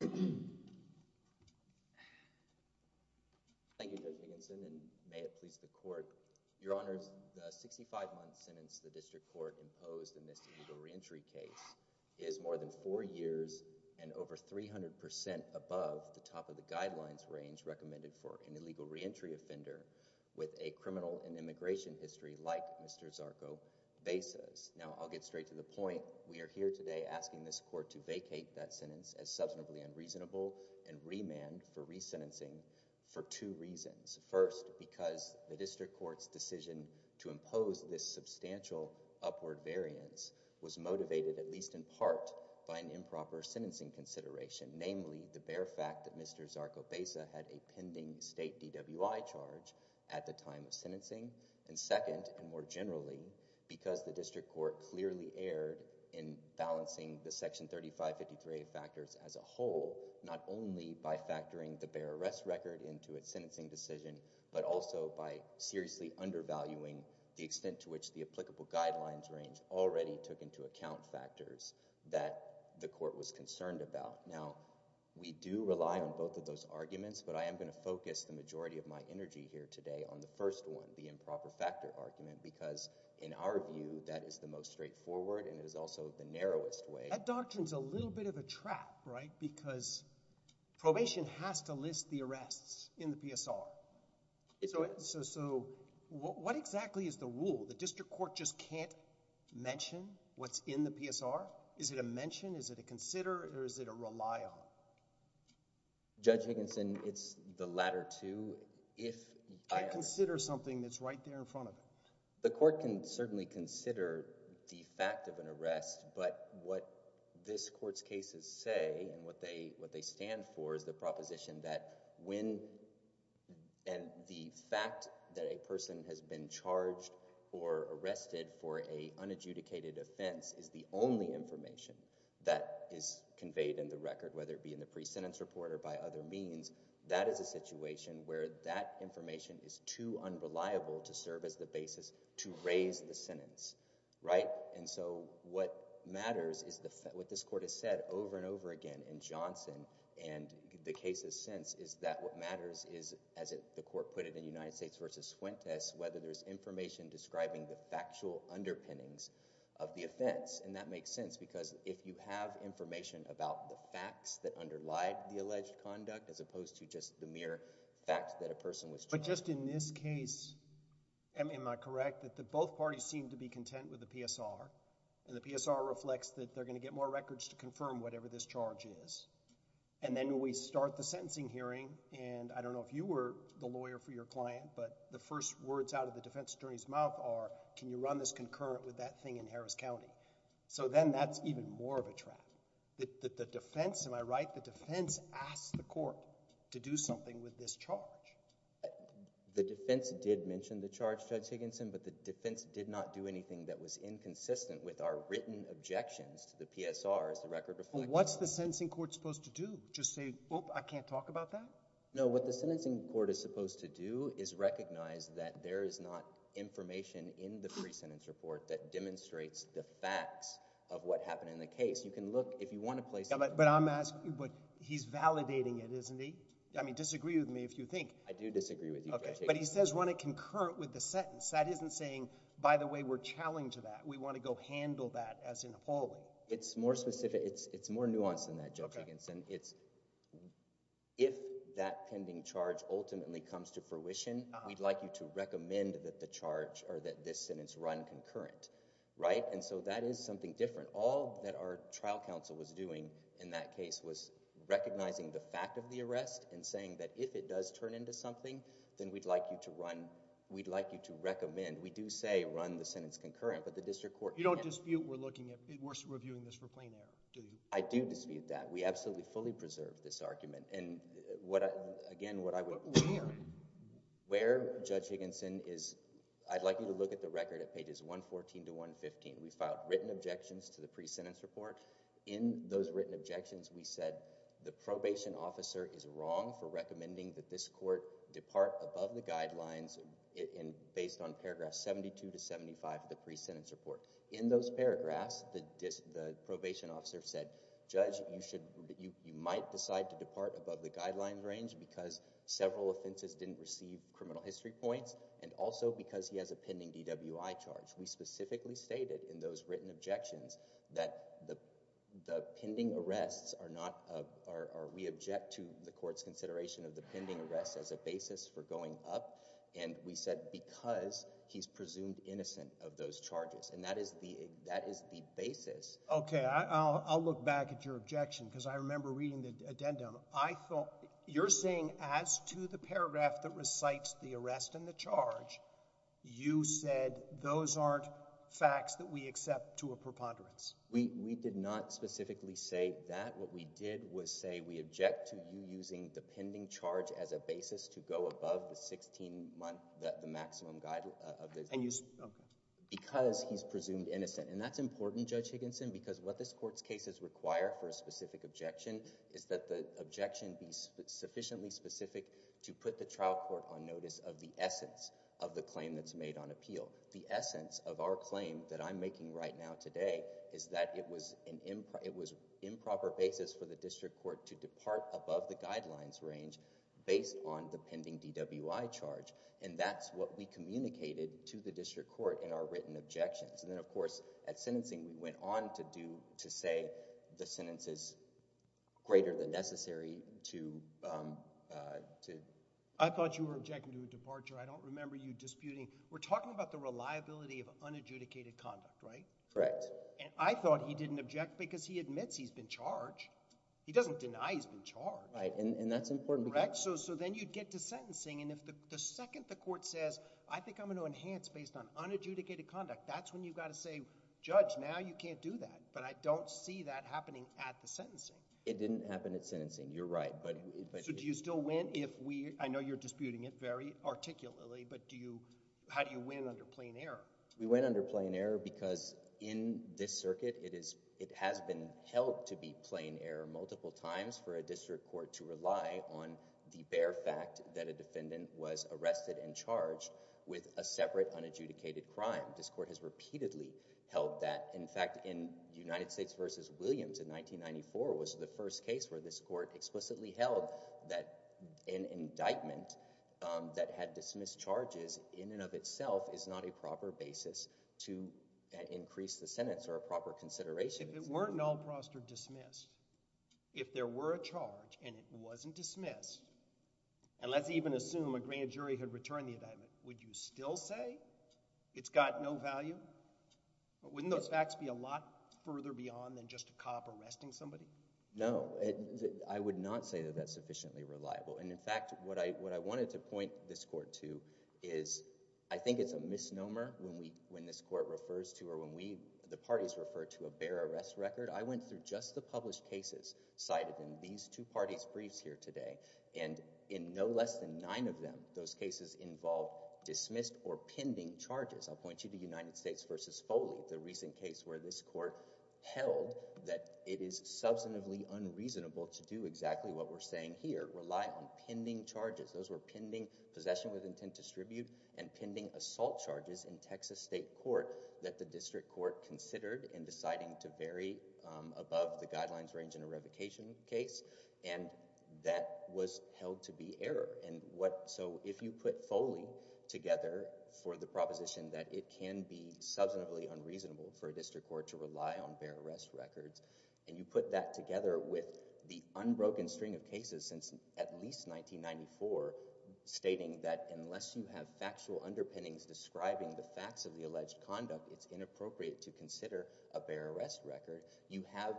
Thank you, Judge Higginson, and may it please the Court, Your Honors, the 65-month sentence the District Court imposed in this illegal reentry case is more than four years and over 300 percent above the top of the guidelines range recommended for an illegal reentry offender with a criminal and immigration history like Mr. Zarco-Beiza's. Now, I'll get straight to the point. We are here today asking this Court to vacate that sentence as substantively unreasonable and remand for resentencing for two reasons. First, because the District Court's decision to impose this substantial upward variance was motivated at least in part by an improper sentencing consideration, namely the bare fact that Mr. Zarco-Beiza had a pending state DWI charge at the time of sentencing. And second, and more generally, because the District Court clearly erred in balancing the Section 3553A factors as a whole, not only by factoring the bare arrest record into its sentencing decision, but also by seriously undervaluing the extent to which the applicable guidelines range already took into account factors that the Court was concerned about. Now, we do rely on both of those arguments, but I am going to focus the majority of my energy here today on the first one, the improper factor argument, because in our view, that is the most straightforward and it is also the narrowest way. That doctrine's a little bit of a trap, right? Because probation has to list the arrests in the PSR. So what exactly is the rule? The District Court just can't mention what's in the PSR? Is it a mention? Is it a consider? Or is it a rely on? Judge Higginson, it's the latter two. I consider something that's right there in front of me. The Court can certainly consider the fact of an arrest, but what this Court's cases say and what they stand for is the proposition that when and the fact that a person has been charged or arrested for an unadjudicated offense is the only information that is conveyed in the record, whether it be in the pre-sentence report or by other means, that is a situation where that information is too unreliable to serve as the basis to raise the sentence, right? And so what matters is what this Court has said over and over again in Johnson and the cases since is that what matters is, as the Court put it in United States v. Fuentes, whether there's information describing the factual underpinnings of the offense. And that makes sense because if you have information about the facts that underlie the alleged conduct as opposed to just the mere facts that a person was charged... But just in this case, am I correct that both parties seem to be content with the PSR? And the PSR reflects that they're going to get more records to confirm whatever this charge is. And then when we start the sentencing hearing, and I don't know if you were the lawyer for your client, but the first words out of the defense attorney's mouth are, can you run this concurrent with that thing in Harris County? So then that's even more of a trap. The defense, am I right, the defense asks the Court to do something with this charge. The defense did mention the charge, Judge Higginson, but the defense did not do anything that was inconsistent with our written objections to the PSR as the record reflects. What's the sentencing Court supposed to do? Just say, oop, I can't talk about that? No, what the sentencing Court is supposed to do is recognize that there is not information in the pre-sentence report that demonstrates the facts of what happened in the case. You can look, if you want to place... But I'm asking, he's validating it, isn't he? I mean, disagree with me if you think... I do disagree with you, Judge Higginson. But he says run it concurrent with the sentence. That isn't saying, by the way, we're challenged to that. We want to go handle that as in a polling. It's more specific, it's more nuanced than that, Judge Higginson. It's, if that pending charge ultimately comes to fruition, we'd like you to recommend that the charge or that this sentence run concurrent, right? And so that is something different. All that our trial counsel was doing in that case was recognizing the fact of the arrest and saying that if it does turn into something, then we'd like you to run, we'd like you to recommend, we do say run the sentence concurrent, but the district court... You don't dispute we're looking at, we're reviewing this for plain error, do you? I do dispute that. We absolutely fully preserve this argument. And again, what I would... Where? Where, Judge Higginson, is, I'd like you to look at the record at pages 114 to 115. We filed written objections to the pre-sentence report. In those written objections, we said the probation officer is wrong for recommending that this court depart above the guidelines based on paragraphs 72 to 75 of the pre-sentence report. In those paragraphs, the probation officer said, Judge, you should, you might decide to depart above the guidelines range because several offenses didn't receive criminal history points and also because he has a pending DWI charge. We specifically stated in those written objections that the pending arrests are not, are, we object to the court's consideration of the pending arrests as a basis for going up. And we said because he's presumed innocent of those charges. And that is the, that is the basis. Okay, I, I'll, I'll look back at your objection because I remember reading the addendum. I thought, you're saying as to the paragraph that recites the arrest and the charge, you said those aren't facts that we accept to a preponderance. We, we did not specifically say that. What we did was say we object to you using the pending charge as a basis to go above the 16 month, the, the maximum guide of this. And you, okay. Because he's presumed innocent. And that's important, Judge Higginson, because what this court's case is required for a specific objection is that the objection be sufficiently specific to put the trial court on notice of the essence of the claim that's made on appeal. The essence of our claim that I'm making right now today is that it was an imp, it was improper basis for the district court to depart above the guidelines range based on the pending DWI charge. And that's what we communicated to the district court in our written objections. And then, of course, at sentencing, we went on to do, to say the sentence is greater than necessary to, um, uh, to. I thought you were objecting to a departure. I don't remember you disputing. We're talking about the reliability of unadjudicated conduct, right? Correct. And I thought he didn't object because he admits he's been charged. He doesn't deny he's been charged. Right, and, and that's important. Correct? So, so then you'd get to sentencing, and if the, the second the court says, I think I'm going to enhance based on unadjudicated conduct, that's when you've got to say, Judge, now you can't do that. But I don't see that happening at the sentencing. It didn't happen at sentencing. You're right, but, but. So do you still win if we, I know you're disputing it very articulately, but do you, how do you win under plain error? We win under plain error because in this circuit it is, it has been held to be plain error multiple times for a district court to rely on the bare fact that a defendant was arrested and charged with a separate unadjudicated crime. This court has repeatedly held that. In fact, in United States versus Williams in 1994 was the first case where this court explicitly held that an indictment, um, that had dismissed charges in and of itself is not a proper basis to increase the sentence or a proper consideration. If it weren't null prostrate dismissed, if there were a charge and it wasn't dismissed, and let's even assume a grand jury had returned the indictment, would you still say it's got no value? But wouldn't those facts be a lot further beyond than just a cop arresting somebody? No, I would not say that that's sufficiently reliable. And in fact, what I, what I wanted to point this court to is I think it's a misnomer when we, when this court refers to, or when we, the parties refer to a bare arrest record, I went through just the published cases cited in these two parties briefs here today. And in no less than nine of them, those cases involve dismissed or pending charges. I'll point you to United States versus Foley, the recent case where this court held that it is substantively unreasonable to do exactly what we're saying here, rely on pending charges. Those were pending possession with intent to distribute and pending assault charges in Texas state court that the district court considered in deciding to vary above the guidelines range in a revocation case. And that was held to be error. And what, so if you put Foley together for the proposition that it can be substantively unreasonable for a district court to rely on bare arrest records, and you put that together with the unbroken string of cases since at least 1994 stating that unless you have factual underpinnings describing the facts of the alleged conduct, it's inappropriate to consider a bare arrest record. You have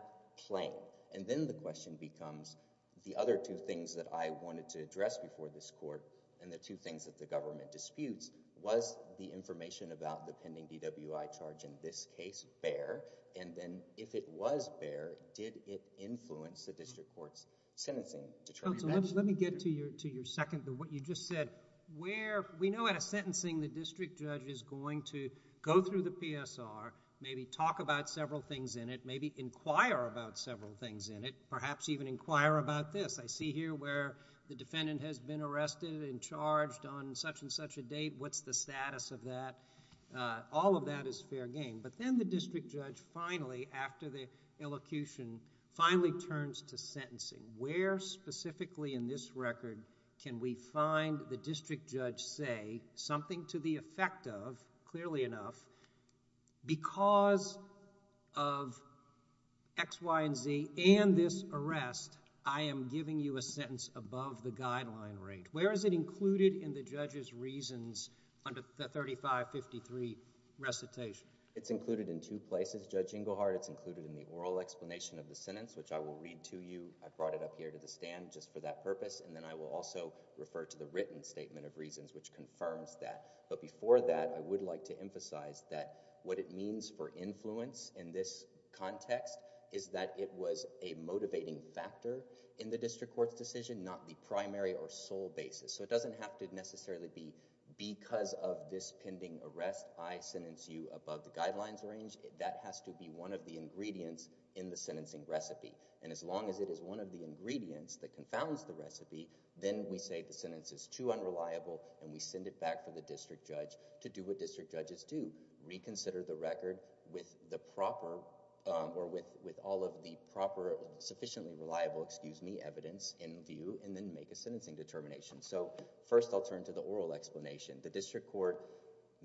plain. And then the question becomes the other two things that I wanted to address before this court and the two things that the government disputes was the information about the pending DWI charge in this case bare? And then if it was bare, did it influence the district court's sentencing? Counsel, let me get to your second, what you just said. Where, we know at a sentencing the district judge is going to go through the PSR, maybe talk about several things in it, maybe inquire about several things in it, perhaps even inquire about this. I see here where the defendant has been arrested and charged on such and such a date. What's the status of that? All of that is fair game. But then the district judge finally, after the elocution, finally turns to sentencing. Where specifically in this record can we find the district judge say something to the effect of, clearly enough, because of X, Y, and Z and this arrest, I am giving you a sentence above the guideline rate. Where is it included in the judge's reasons under the 3553 recitation? It's included in two places, Judge Engelhardt. It's included in the oral explanation of the sentence which I will read to you. I brought it up here to the stand just for that purpose and then I will also refer to the written statement of reasons which confirms that. But before that, I would like to emphasize that what it means for influence in this context is that it was a motivating factor in the district court's decision, not the primary or sole basis. So it doesn't have to necessarily be because of this pending arrest, I sentence you above the guidelines range. That has to be one of the ingredients in the sentencing recipe. And as long as it is one of the ingredients that confounds the recipe, then we say the sentence is too unreliable and we send it back for the district judge to do what district judges do, reconsider the record with the proper, or with all of the proper sufficiently reliable, excuse me, evidence in view and then make a sentencing determination. So first I'll turn to the oral explanation. The district court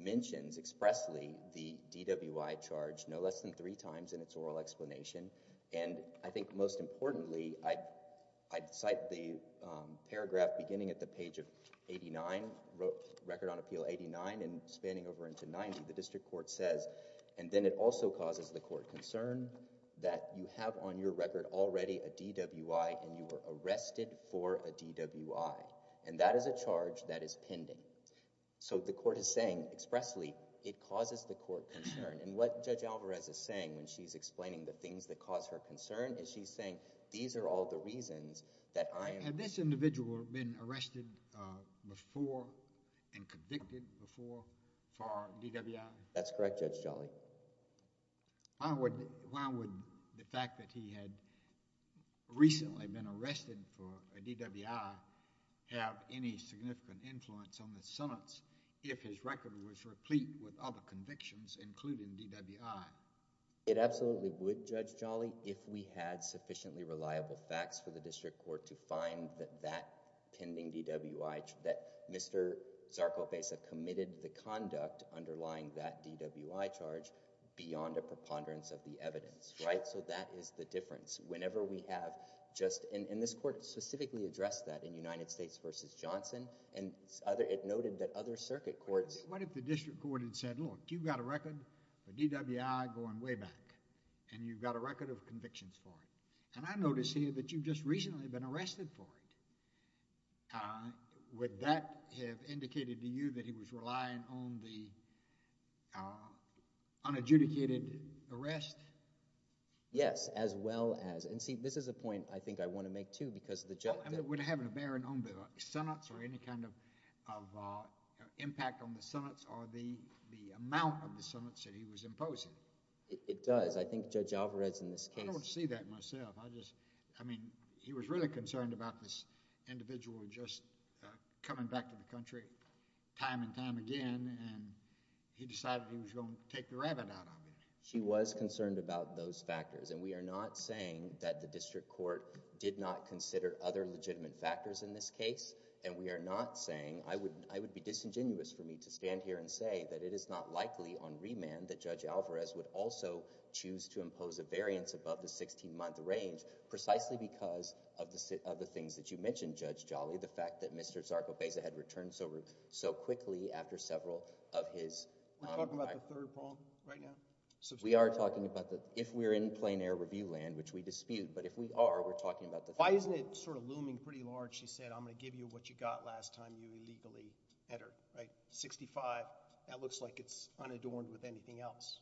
mentions expressly the DWI charge no less than three times in its oral explanation and I think most importantly I cite the paragraph beginning at the page of 89, Record on Appeal 89 and spanning over into 90, the district court says, and then it also causes the court concern that you have on your record already a DWI and you were arrested for a DWI and that is a charge that is pending. So the court is saying expressly it causes the court concern and what Judge Alvarez is saying when she's explaining the things that cause her concern is she's saying these are all the reasons that I am. Had this individual been arrested before and convicted before for DWI? That's correct, Judge Jolly. Why would the fact that he had recently been arrested for a DWI have any significant influence on the sentence if his record was replete with other convictions including DWI? It absolutely would, Judge Jolly, if we had sufficiently reliable facts for the district court to find that that pending DWI, that Mr. Zarcofeza committed the conduct underlying that DWI charge beyond a preponderance of the evidence, right? So that is the difference. Whenever we have just, and this court specifically addressed that in United States v. Johnson and it noted that other circuit courts. What if the district court had said, look, you've got a record for DWI going way back and you've got a record of convictions for it and I notice here that you've just recently been arrested for it. Would that have indicated to you that he was relying on the unadjudicated arrest? Yes, as well as, and see this is a point I think I want to make too because the judge would have a bearing on the sentence or any kind of impact on the sentence or the amount of the sentence that he was imposing. It does, I think Judge Alvarez in this case. I don't know if he was really concerned about this individual just coming back to the country time and time again and he decided he was going to take the rabbit out of it. He was concerned about those factors and we are not saying that the district court did not consider other legitimate factors in this case and we are not saying, I would be disingenuous for me to stand here and say that it is not likely on remand that Judge Alvarez would also choose to impose a variance above the 16-month range precisely because of the things that you mentioned, Judge Jolly, the fact that Mr. Zarco-Beza had returned so quickly after several of his... Are we talking about the third bond right now? We are talking about the, if we're in plain air review land, which we dispute, but if we are, we're talking about the... Why isn't it sort of looming pretty large, she said, I'm going to give you what you got last time you illegally entered, right? 65, that looks like it's unadorned with anything else.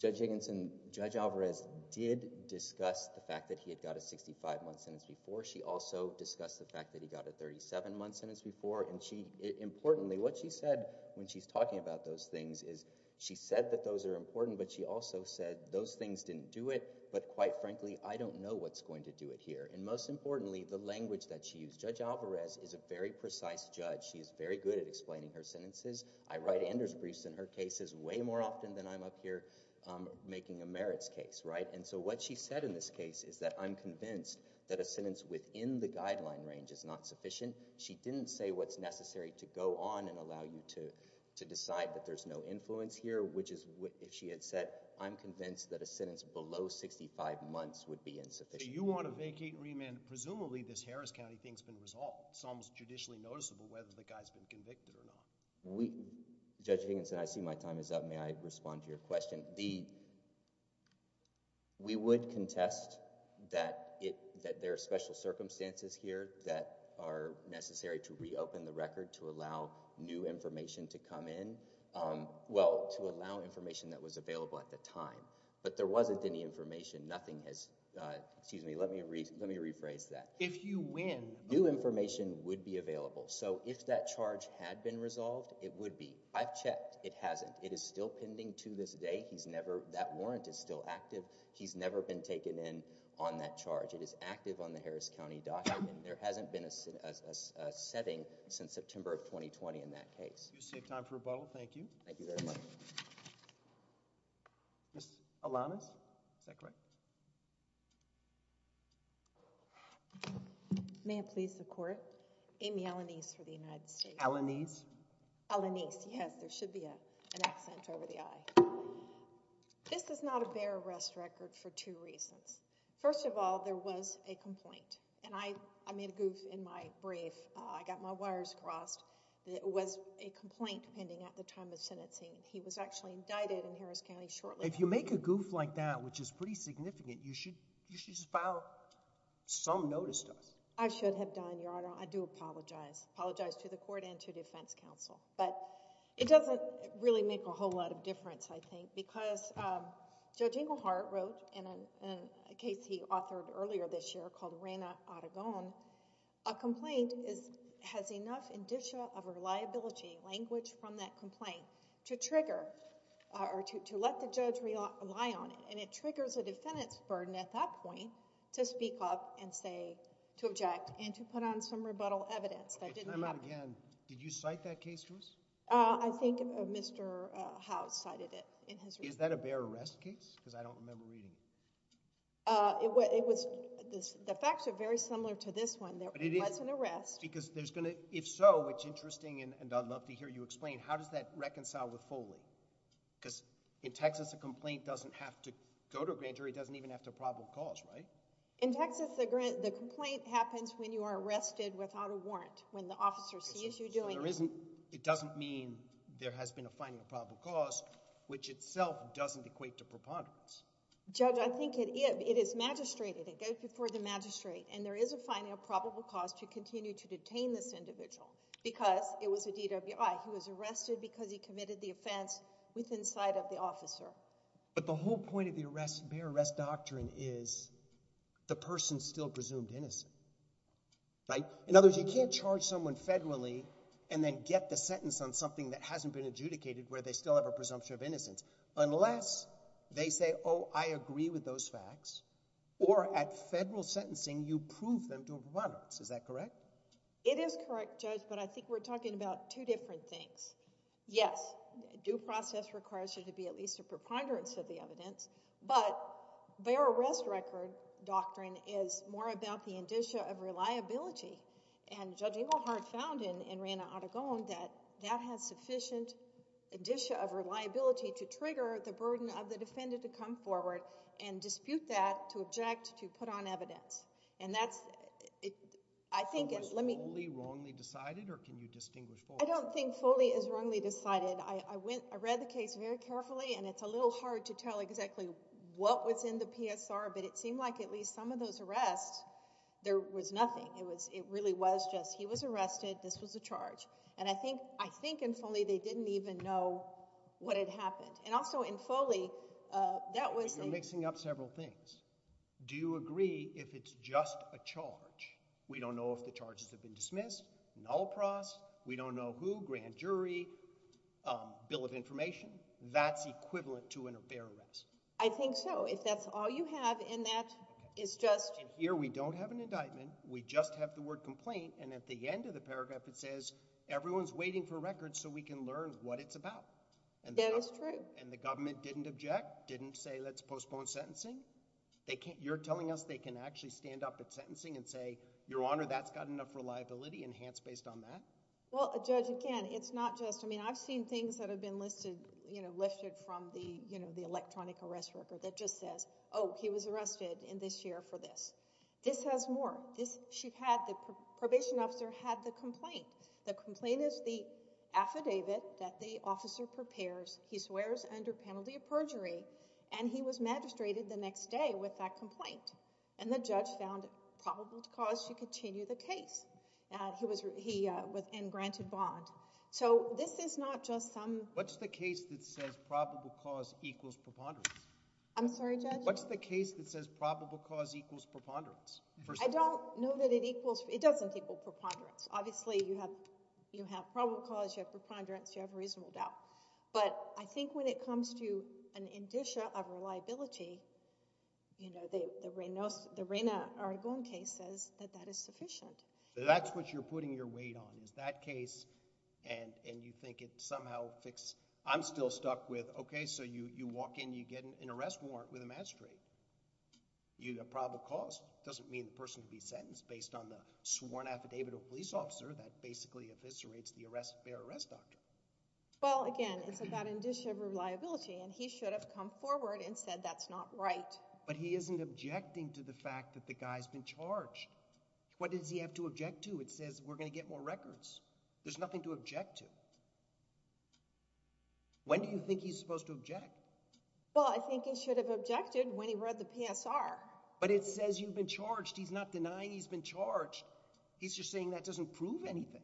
Judge Higginson, Judge Alvarez did discuss the fact that he had got a 65-month sentence before. She also discussed the fact that he got a 37-month sentence before and she, importantly, what she said when she's talking about those things is, she said that those are important, but she also said those things didn't do it, but quite frankly, I don't know what's going to do it here. And most importantly, the language that she used. Judge Alvarez is a very precise judge. She is very good at explaining her sentences. I write Anders briefs in her cases way more often than I'm up here making a merits case, right? And so what she said in this case is that I'm convinced that a sentence within the guideline range is not sufficient. She didn't say what's necessary to go on and allow you to, to decide that there's no influence here, which is what if she had said, I'm convinced that a sentence below 65 months would be insufficient. You want to vacate and remand, presumably this Harris County thing's been resolved. Some's judicially noticeable whether the guy's been convicted or not. We, Judge Higginson, I see my time is up. May I respond to your question? The, we would contest that it, that there are special circumstances here that are necessary to reopen the record to allow new information to come in. Um, well, to allow information that was available at the time, but there wasn't any information. Nothing has, uh, excuse me, let me re, let me rephrase that. If you win, new information would be available. So if that charge had been resolved, it would be, I've checked, it hasn't, it is still pending to this day. He's never, that warrant is still active. He's never been taken in on that charge. It is active on the Harris County docket and there hasn't been a, a, a setting since September of 2020 in that case. Do you see a time for rebuttal? Thank you. Thank you very much. Ms. Alanis. Is that correct? May it please the court, Amy Alanis for the United States. Alanis. Alanis. Yes, there should be a, an accent over the eye. This is not a bare arrest record for two reasons. First of all, there was a complaint and I, I made a goof in my brief. Uh, I got my wires crossed that it was a complaint pending at the time of sentencing. He was actually indicted in Harris County shortly. If you make a goof like that, which is pretty significant, you should, you should just file some notice to us. I should have done, Your Honor. I do apologize. I apologize to the court and to defense counsel, but it doesn't really make a whole lot of difference I think because, um, Judge Inglehart wrote in a, in a case he authored earlier this year called Rana Aragon, a complaint is, has enough indicia of reliability, language from that complaint to trigger, uh, or to, to let the judge rely on it and it triggers a defendant's burden at that point to speak up and say, to object and to put on some rebuttal evidence that didn't happen. Okay, time out again. Did you cite that case to us? Uh, I think Mr. Howe cited it in his report. Is that a bare arrest case? Because I don't remember reading it. Uh, it was, it was, the facts are very similar to this one. But it is. There was an arrest. There was an arrest. Because there's gonna, if so, which is interesting and I'd love to hear you explain, how does that reconcile with Foley? Because in Texas, a complaint doesn't have to go to a grand jury, it doesn't even have to probable cause, right? In Texas, the complaint happens when you are arrested without a warrant, when the officer sees you doing it. So there isn't, it doesn't mean there has been a finding of probable cause, which itself doesn't equate to preponderance. Judge, I think it is, it is magistrated, it goes before the magistrate and there is a finding of probable cause to continue to detain this individual because it was a DWI. He was arrested because he committed the offense within sight of the officer. But the whole point of the arrest, bare arrest doctrine is, the person's still presumed innocent. Right? In other words, you can't charge someone federally and then get the sentence on something that hasn't been adjudicated where they still have a presumption of innocence. Unless they say, oh, I agree with those facts, or at federal sentencing, you prove them to have preponderance. Is that correct? It is correct, Judge, but I think we're talking about two different things. Yes, due process requires there to be at least a preponderance of the evidence, but bare arrest record doctrine is more about the indicia of reliability. And Judge Inglehart found in Reina Aragón that that has sufficient indicia of reliability to trigger the burden of the defendant to come forward and dispute that, to object, to put on evidence. And that's... I think... Was Foley wrongly decided, or can you distinguish? I don't think Foley is wrongly decided. I went... I read the case very carefully and it's a little hard to tell exactly what was in the PSR, but it seemed like at least some of those arrests, there was nothing. It really was just, he was arrested, this was a charge. And I think in Foley, they didn't even know what had happened. And also in Foley, that was... You're mixing up several things. Do you agree if it's just a charge? We don't know if the charges have been dismissed, null pros, we don't know who, grand jury, bill of information, that's equivalent to an affair arrest? I think so. If that's all you have in that, it's just... And here we don't have an indictment, we just have the word complaint, and at the end of the paragraph it says, everyone's waiting for records so we can learn what it's about. And the government... That is true. And the government didn't object, didn't say, let's postpone sentencing? You're telling us they can actually stand up at sentencing and say, Your Honor, that's got enough reliability enhanced based on that? Well, Judge, again, it's not just... I mean, I've seen things that have been listed from the electronic arrest record that just says, oh, he was arrested in this year for this. This has more. The probation officer had the complaint. The complaint is the affidavit that the officer prepares, he swears under penalty of perjury, and he was magistrated the next day with that complaint. And the judge found probable cause to continue the case. He was in granted bond. So this is not just some... What's the case that says probable cause equals preponderance? I'm sorry, Judge? What's the case that says probable cause equals preponderance? I don't know that it equals... it doesn't equal preponderance. Obviously, you have probable cause, you have preponderance, you have reasonable doubt. But I think when it comes to an indicia of reliability, you know, the Reyna Aragon case says that that is sufficient. That's what you're putting your weight on, is that case, and you think it somehow fixed. I'm still stuck with, okay, so you walk in, you get an arrest warrant with a magistrate. You have probable cause. It doesn't mean the person can be sentenced based on the sworn affidavit of a police officer that basically eviscerates the arrest of a fair arrest doctrine. Well, again, it's about indicia of reliability, and he should have come forward and said that's not right. But he isn't objecting to the fact that the guy's been charged. What does he have to object to? It says we're going to get more records. There's nothing to object to. When do you think he's supposed to object? Well, I think he should have objected when he read the PSR. But it says you've been charged. He's not denying he's been charged. He's just saying that doesn't prove anything.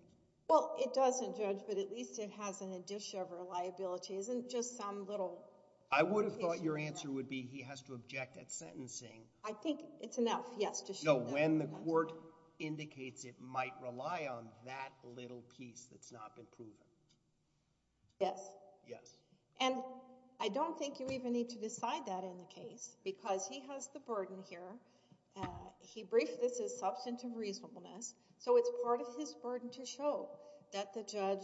Well, it doesn't, Judge, but at least it has an indicia of reliability. It isn't just some little indication. I would have thought your answer would be he has to object at sentencing. I think it's enough, yes, to show that. No, when the court indicates it might rely on that little piece that's not been proven. Yes. Yes. And I don't think you even need to decide that in the case, because he has the burden here. He briefed this as substantive reasonableness, so it's part of his burden to show that the judge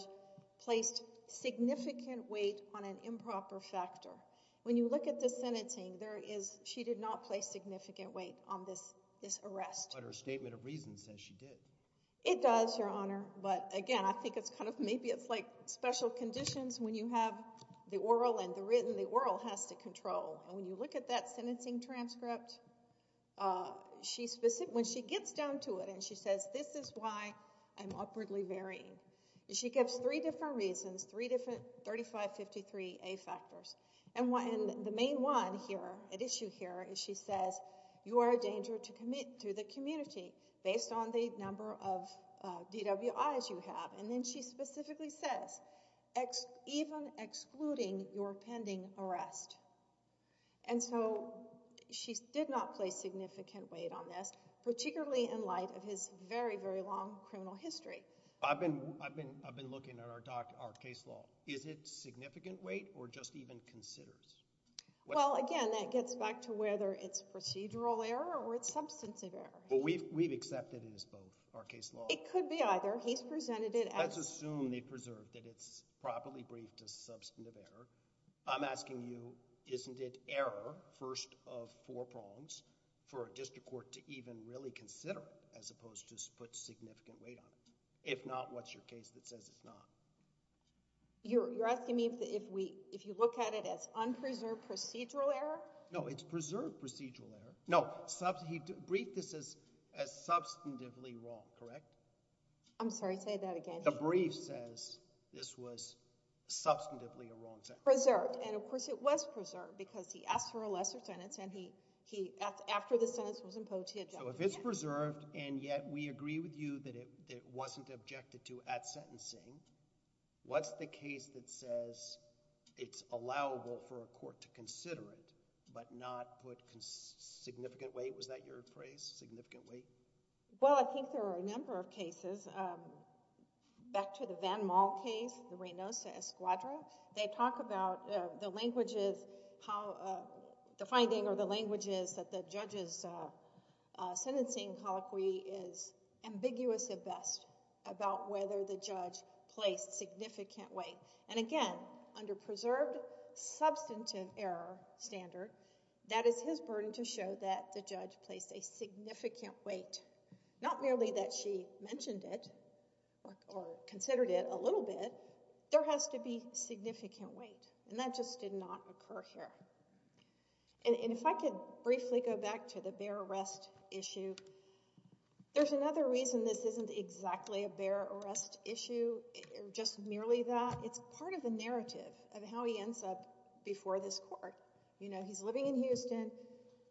placed significant weight on an improper factor. When you look at the sentencing, there is, she did not place significant weight on this arrest. But her statement of reason says she did. It does, Your Honor, but again, I think it's kind of, maybe it's like special conditions when you have the oral and the written. The oral has to control, and when you look at that sentencing transcript, when she gets down to it and she says, this is why I'm awkwardly varying. She gives three different reasons, three different 3553A factors. And the main one here, at issue here, is she says, you are a danger to the community based on the number of DWIs you have. And then she specifically says, even excluding your pending arrest. And so, she did not place significant weight on this, particularly in light of his very, very long criminal history. I've been looking at our case law. Is it significant weight, or just even considers? Well, again, that gets back to whether it's procedural error or it's substantive error. We've accepted it as both, our case law. It could be either. He's presented it as- Let's assume they preserved it. It's properly briefed as substantive error. I'm asking you, isn't it error, first of four prongs, for a district court to even really consider it, as opposed to put significant weight on it? If not, what's your case that says it's not? You're asking me if you look at it as unpreserved procedural error? No, it's preserved procedural error. No, he briefed this as substantively wrong, correct? I'm sorry, say that again. The brief says this was substantively a wrong sentence. Preserved. And of course, it was preserved, because he asked for a lesser sentence, and he, after the sentence was imposed, he adjusted it. So, if it's preserved, and yet we agree with you that it wasn't objected to at sentencing, what's the case that says it's allowable for a court to consider it, but not put significant weight? Was that your phrase? Significant weight? Well, I think there are a number of cases. Back to the Van Maal case, the Reynosa Escuadra, they talk about the language is, how the finding or the language is that the judge's sentencing colloquy is ambiguous at best about whether the judge placed significant weight. And again, under preserved substantive error standard, that is his burden to show that the judge placed a significant weight. Not merely that she mentioned it, or considered it a little bit, there has to be significant weight. And that just did not occur here. And if I could briefly go back to the bear arrest issue, there's another reason this isn't exactly a bear arrest issue, or just merely that. It's part of the narrative of how he ends up before this court. He's living in Houston.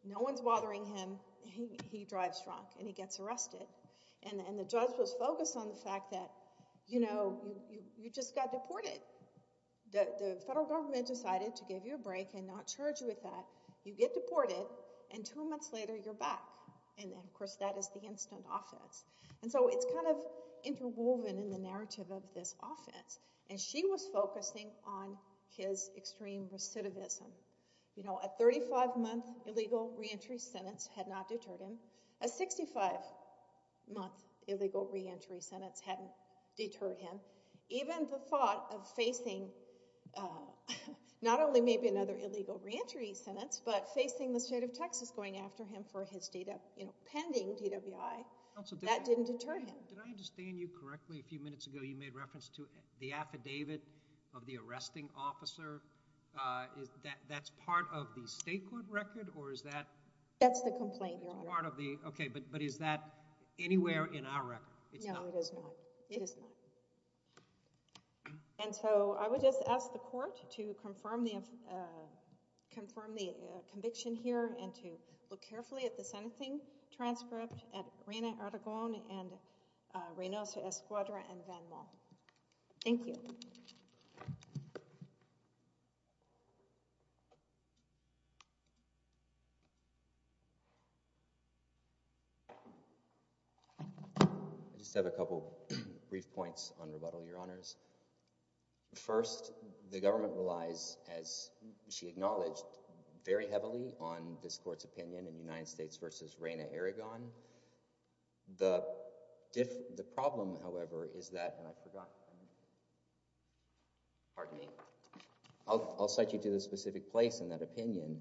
No one's bothering him. He drives drunk, and he gets arrested. And the judge was focused on the fact that you just got deported. The federal government decided to give you a break and not charge you with that. You get deported, and two months later, you're back. And of course, that is the instant offense. And so it's kind of interwoven in the narrative of this offense. And she was focusing on his extreme recidivism. You know, a 35-month illegal reentry sentence had not deterred him. A 65-month illegal reentry sentence hadn't deterred him. Even the thought of facing not only maybe another illegal reentry sentence, but facing the state of Texas going after him for his data, you know, pending DWI, that didn't deter him. Did I understand you correctly a few minutes ago? You made reference to the affidavit of the arresting officer. That's part of the state court record, or is that? That's the complaint, Your Honor. It's part of the—okay, but is that anywhere in our record? No, it is not. It is not. And so I would just ask the court to confirm the conviction here and to look carefully at the sentencing transcript at Reina Aragón and Reynoso Escuadra and Van Maal. Thank you. I just have a couple brief points on rebuttal, Your Honors. First, the government relies, as she acknowledged, very heavily on this court's opinion in the United States v. Reina Aragón. The problem, however, is that—and I forgot—pardon me—I'll cite you to the specific place in that opinion.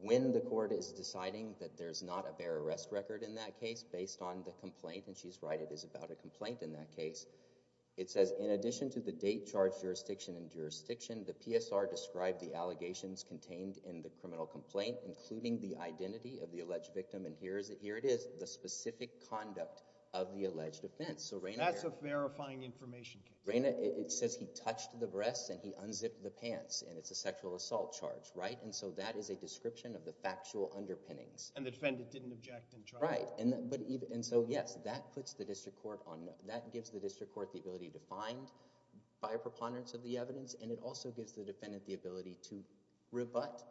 When the court is deciding that there's not a bare arrest record in that case based on the complaint—and she's right, it is about a complaint in that case—it says, in addition to the date, charge, jurisdiction, and jurisdiction, the PSR described the allegations contained in the criminal complaint, including the identity of the alleged victim, and here it is, the specific conduct of the alleged offense. So Reina— That's a verifying information case. Reina, it says he touched the breasts and he unzipped the pants, and it's a sexual assault charge, right? And so that is a description of the factual underpinnings. And the defendant didn't object and tried— Right. And so, yes, that puts the district court on—that gives the district court the ability to find by a preponderance of the evidence, and it also gives the defendant the ability to rebut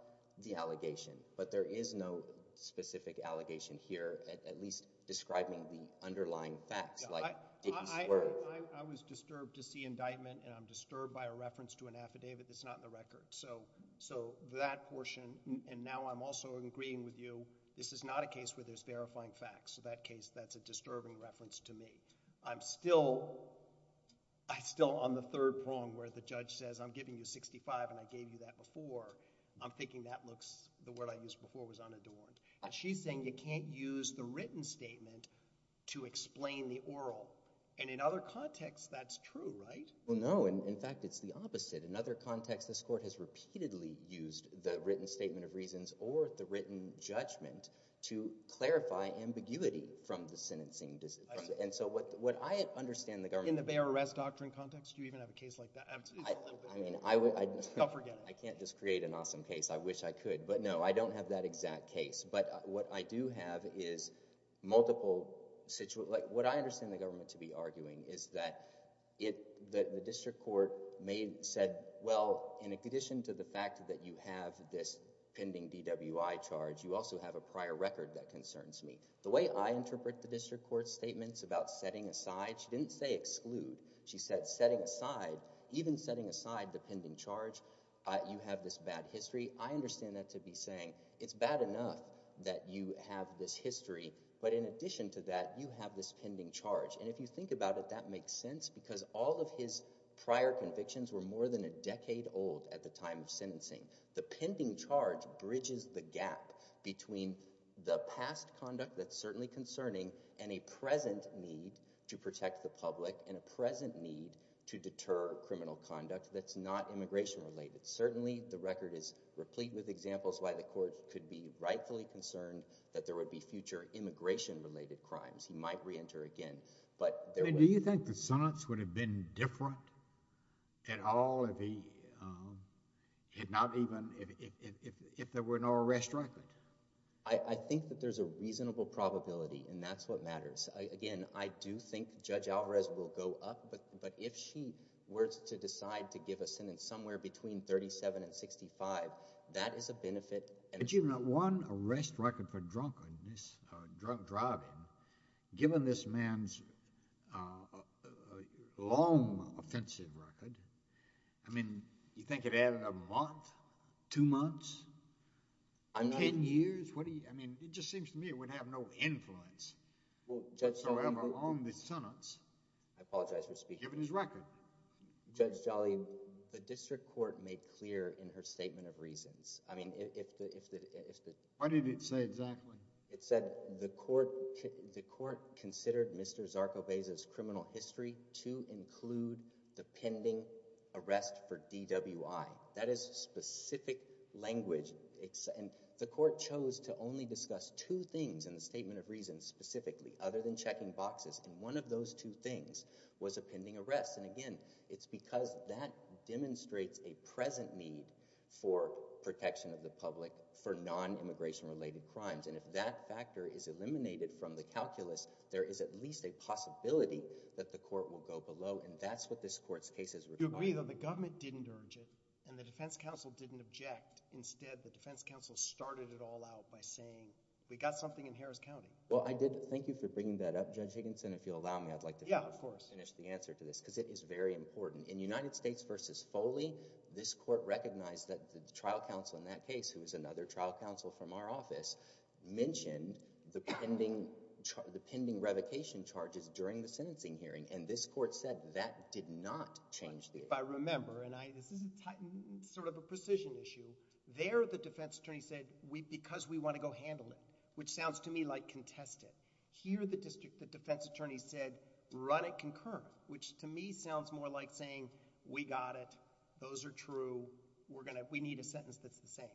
the allegation. But there is no specific allegation here, at least describing the underlying facts like Dickey's words. Yeah, I was disturbed to see indictment, and I'm disturbed by a reference to an affidavit that's not in the record. So that portion—and now I'm also agreeing with you—this is not a case where there's verifying facts. So that case, that's a disturbing reference to me. I'm still on the third prong where the judge says, I'm giving you 65 and I gave you that before. I'm thinking that looks—the word I used before was unadorned. And she's saying you can't use the written statement to explain the oral. And in other contexts, that's true, right? Well, no. In fact, it's the opposite. In other contexts, this court has repeatedly used the written statement of reasons or the written judgment to clarify ambiguity from the sentencing. And so what I understand the government— In the bear arrest doctrine context, do you even have a case like that? I mean, I would— Don't forget it. I can't just create an awesome case. I wish I could. But no, I don't have that exact case. But what I do have is multiple— What I understand the government to be arguing is that the district court said, well, in addition to the fact that you have this pending DWI charge, you also have a prior record that concerns me. The way I interpret the district court statements about setting aside, she didn't say exclude. She said setting aside, even setting aside the pending charge, you have this bad history. I understand that to be saying it's bad enough that you have this history, but in addition to that, you have this pending charge. And if you think about it, that makes sense because all of his prior convictions were more than a decade old at the time of sentencing. The pending charge bridges the gap between the past conduct that's certainly concerning and a present need to protect the public and a present need to deter criminal conduct that's not immigration-related. Certainly, the record is replete with examples why the court could be rightfully concerned that there would be future immigration-related crimes. He might re-enter again, but there— Do you think the sentence would have been different at all if he had not even—if there were no arrest record? I think that there's a reasonable probability, and that's what matters. Again, I do think Judge Alvarez will go up, but if she were to decide to give a sentence somewhere between 37 and 65, that is a benefit— But you've got one arrest record for drunk driving. Given this man's long offensive record, I mean, you think it added a month, two months? I'm not— Ten years? What do you—I mean, it just seems to me it would have no influence— Well, Judge Jolly— —on the sentence— I apologize for speaking. —given his record. Judge Jolly, the district court made clear in her statement of reasons—I mean, if the— What did it say exactly? It said the court considered Mr. Zarco-Bezos' criminal history to include the pending arrest for DWI. That is specific language, and the court chose to only discuss two things in the statement of reasons specifically, other than checking boxes, and one of those two things was a pending arrest. And again, it's because that demonstrates a present need for protection of the public for non-immigration-related crimes, and if that factor is eliminated from the calculus, there is at least a possibility that the court will go below, and that's what this court's case is regarding. For me, though, the government didn't urge it, and the defense counsel didn't object. Instead, the defense counsel started it all out by saying, we got something in Harris County. Well, I did. Thank you for bringing that up, Judge Higginson. If you'll allow me, I'd like to— Yeah, of course. —finish the answer to this, because it is very important. In United States v. Foley, this court recognized that the trial counsel in that case, who is another trial counsel from our office, mentioned the pending—the pending revocation charges during the sentencing hearing, and this court said that did not change the— If I remember, and this is sort of a precision issue, there the defense attorney said, because we want to go handle it, which sounds to me like contest it. Here the district, the defense attorney said, run it concurrent, which to me sounds more like saying, we got it, those are true, we need a sentence that's the same.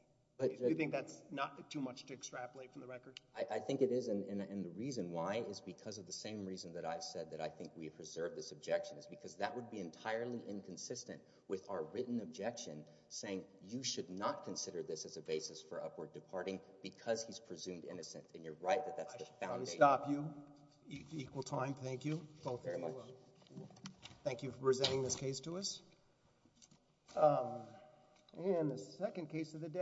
Do you think that's not too much to extrapolate from the record? I think it is, and the reason why is because of the same reason that I said that I think we have preserved this objection, is because that would be entirely inconsistent with our written objection saying, you should not consider this as a basis for upward departing because he's presumed innocent, and you're right that that's the foundation. I stop you. Equal time. Thank you. Both of you. Very much. Thank you for presenting this case to us. And the second case of the day—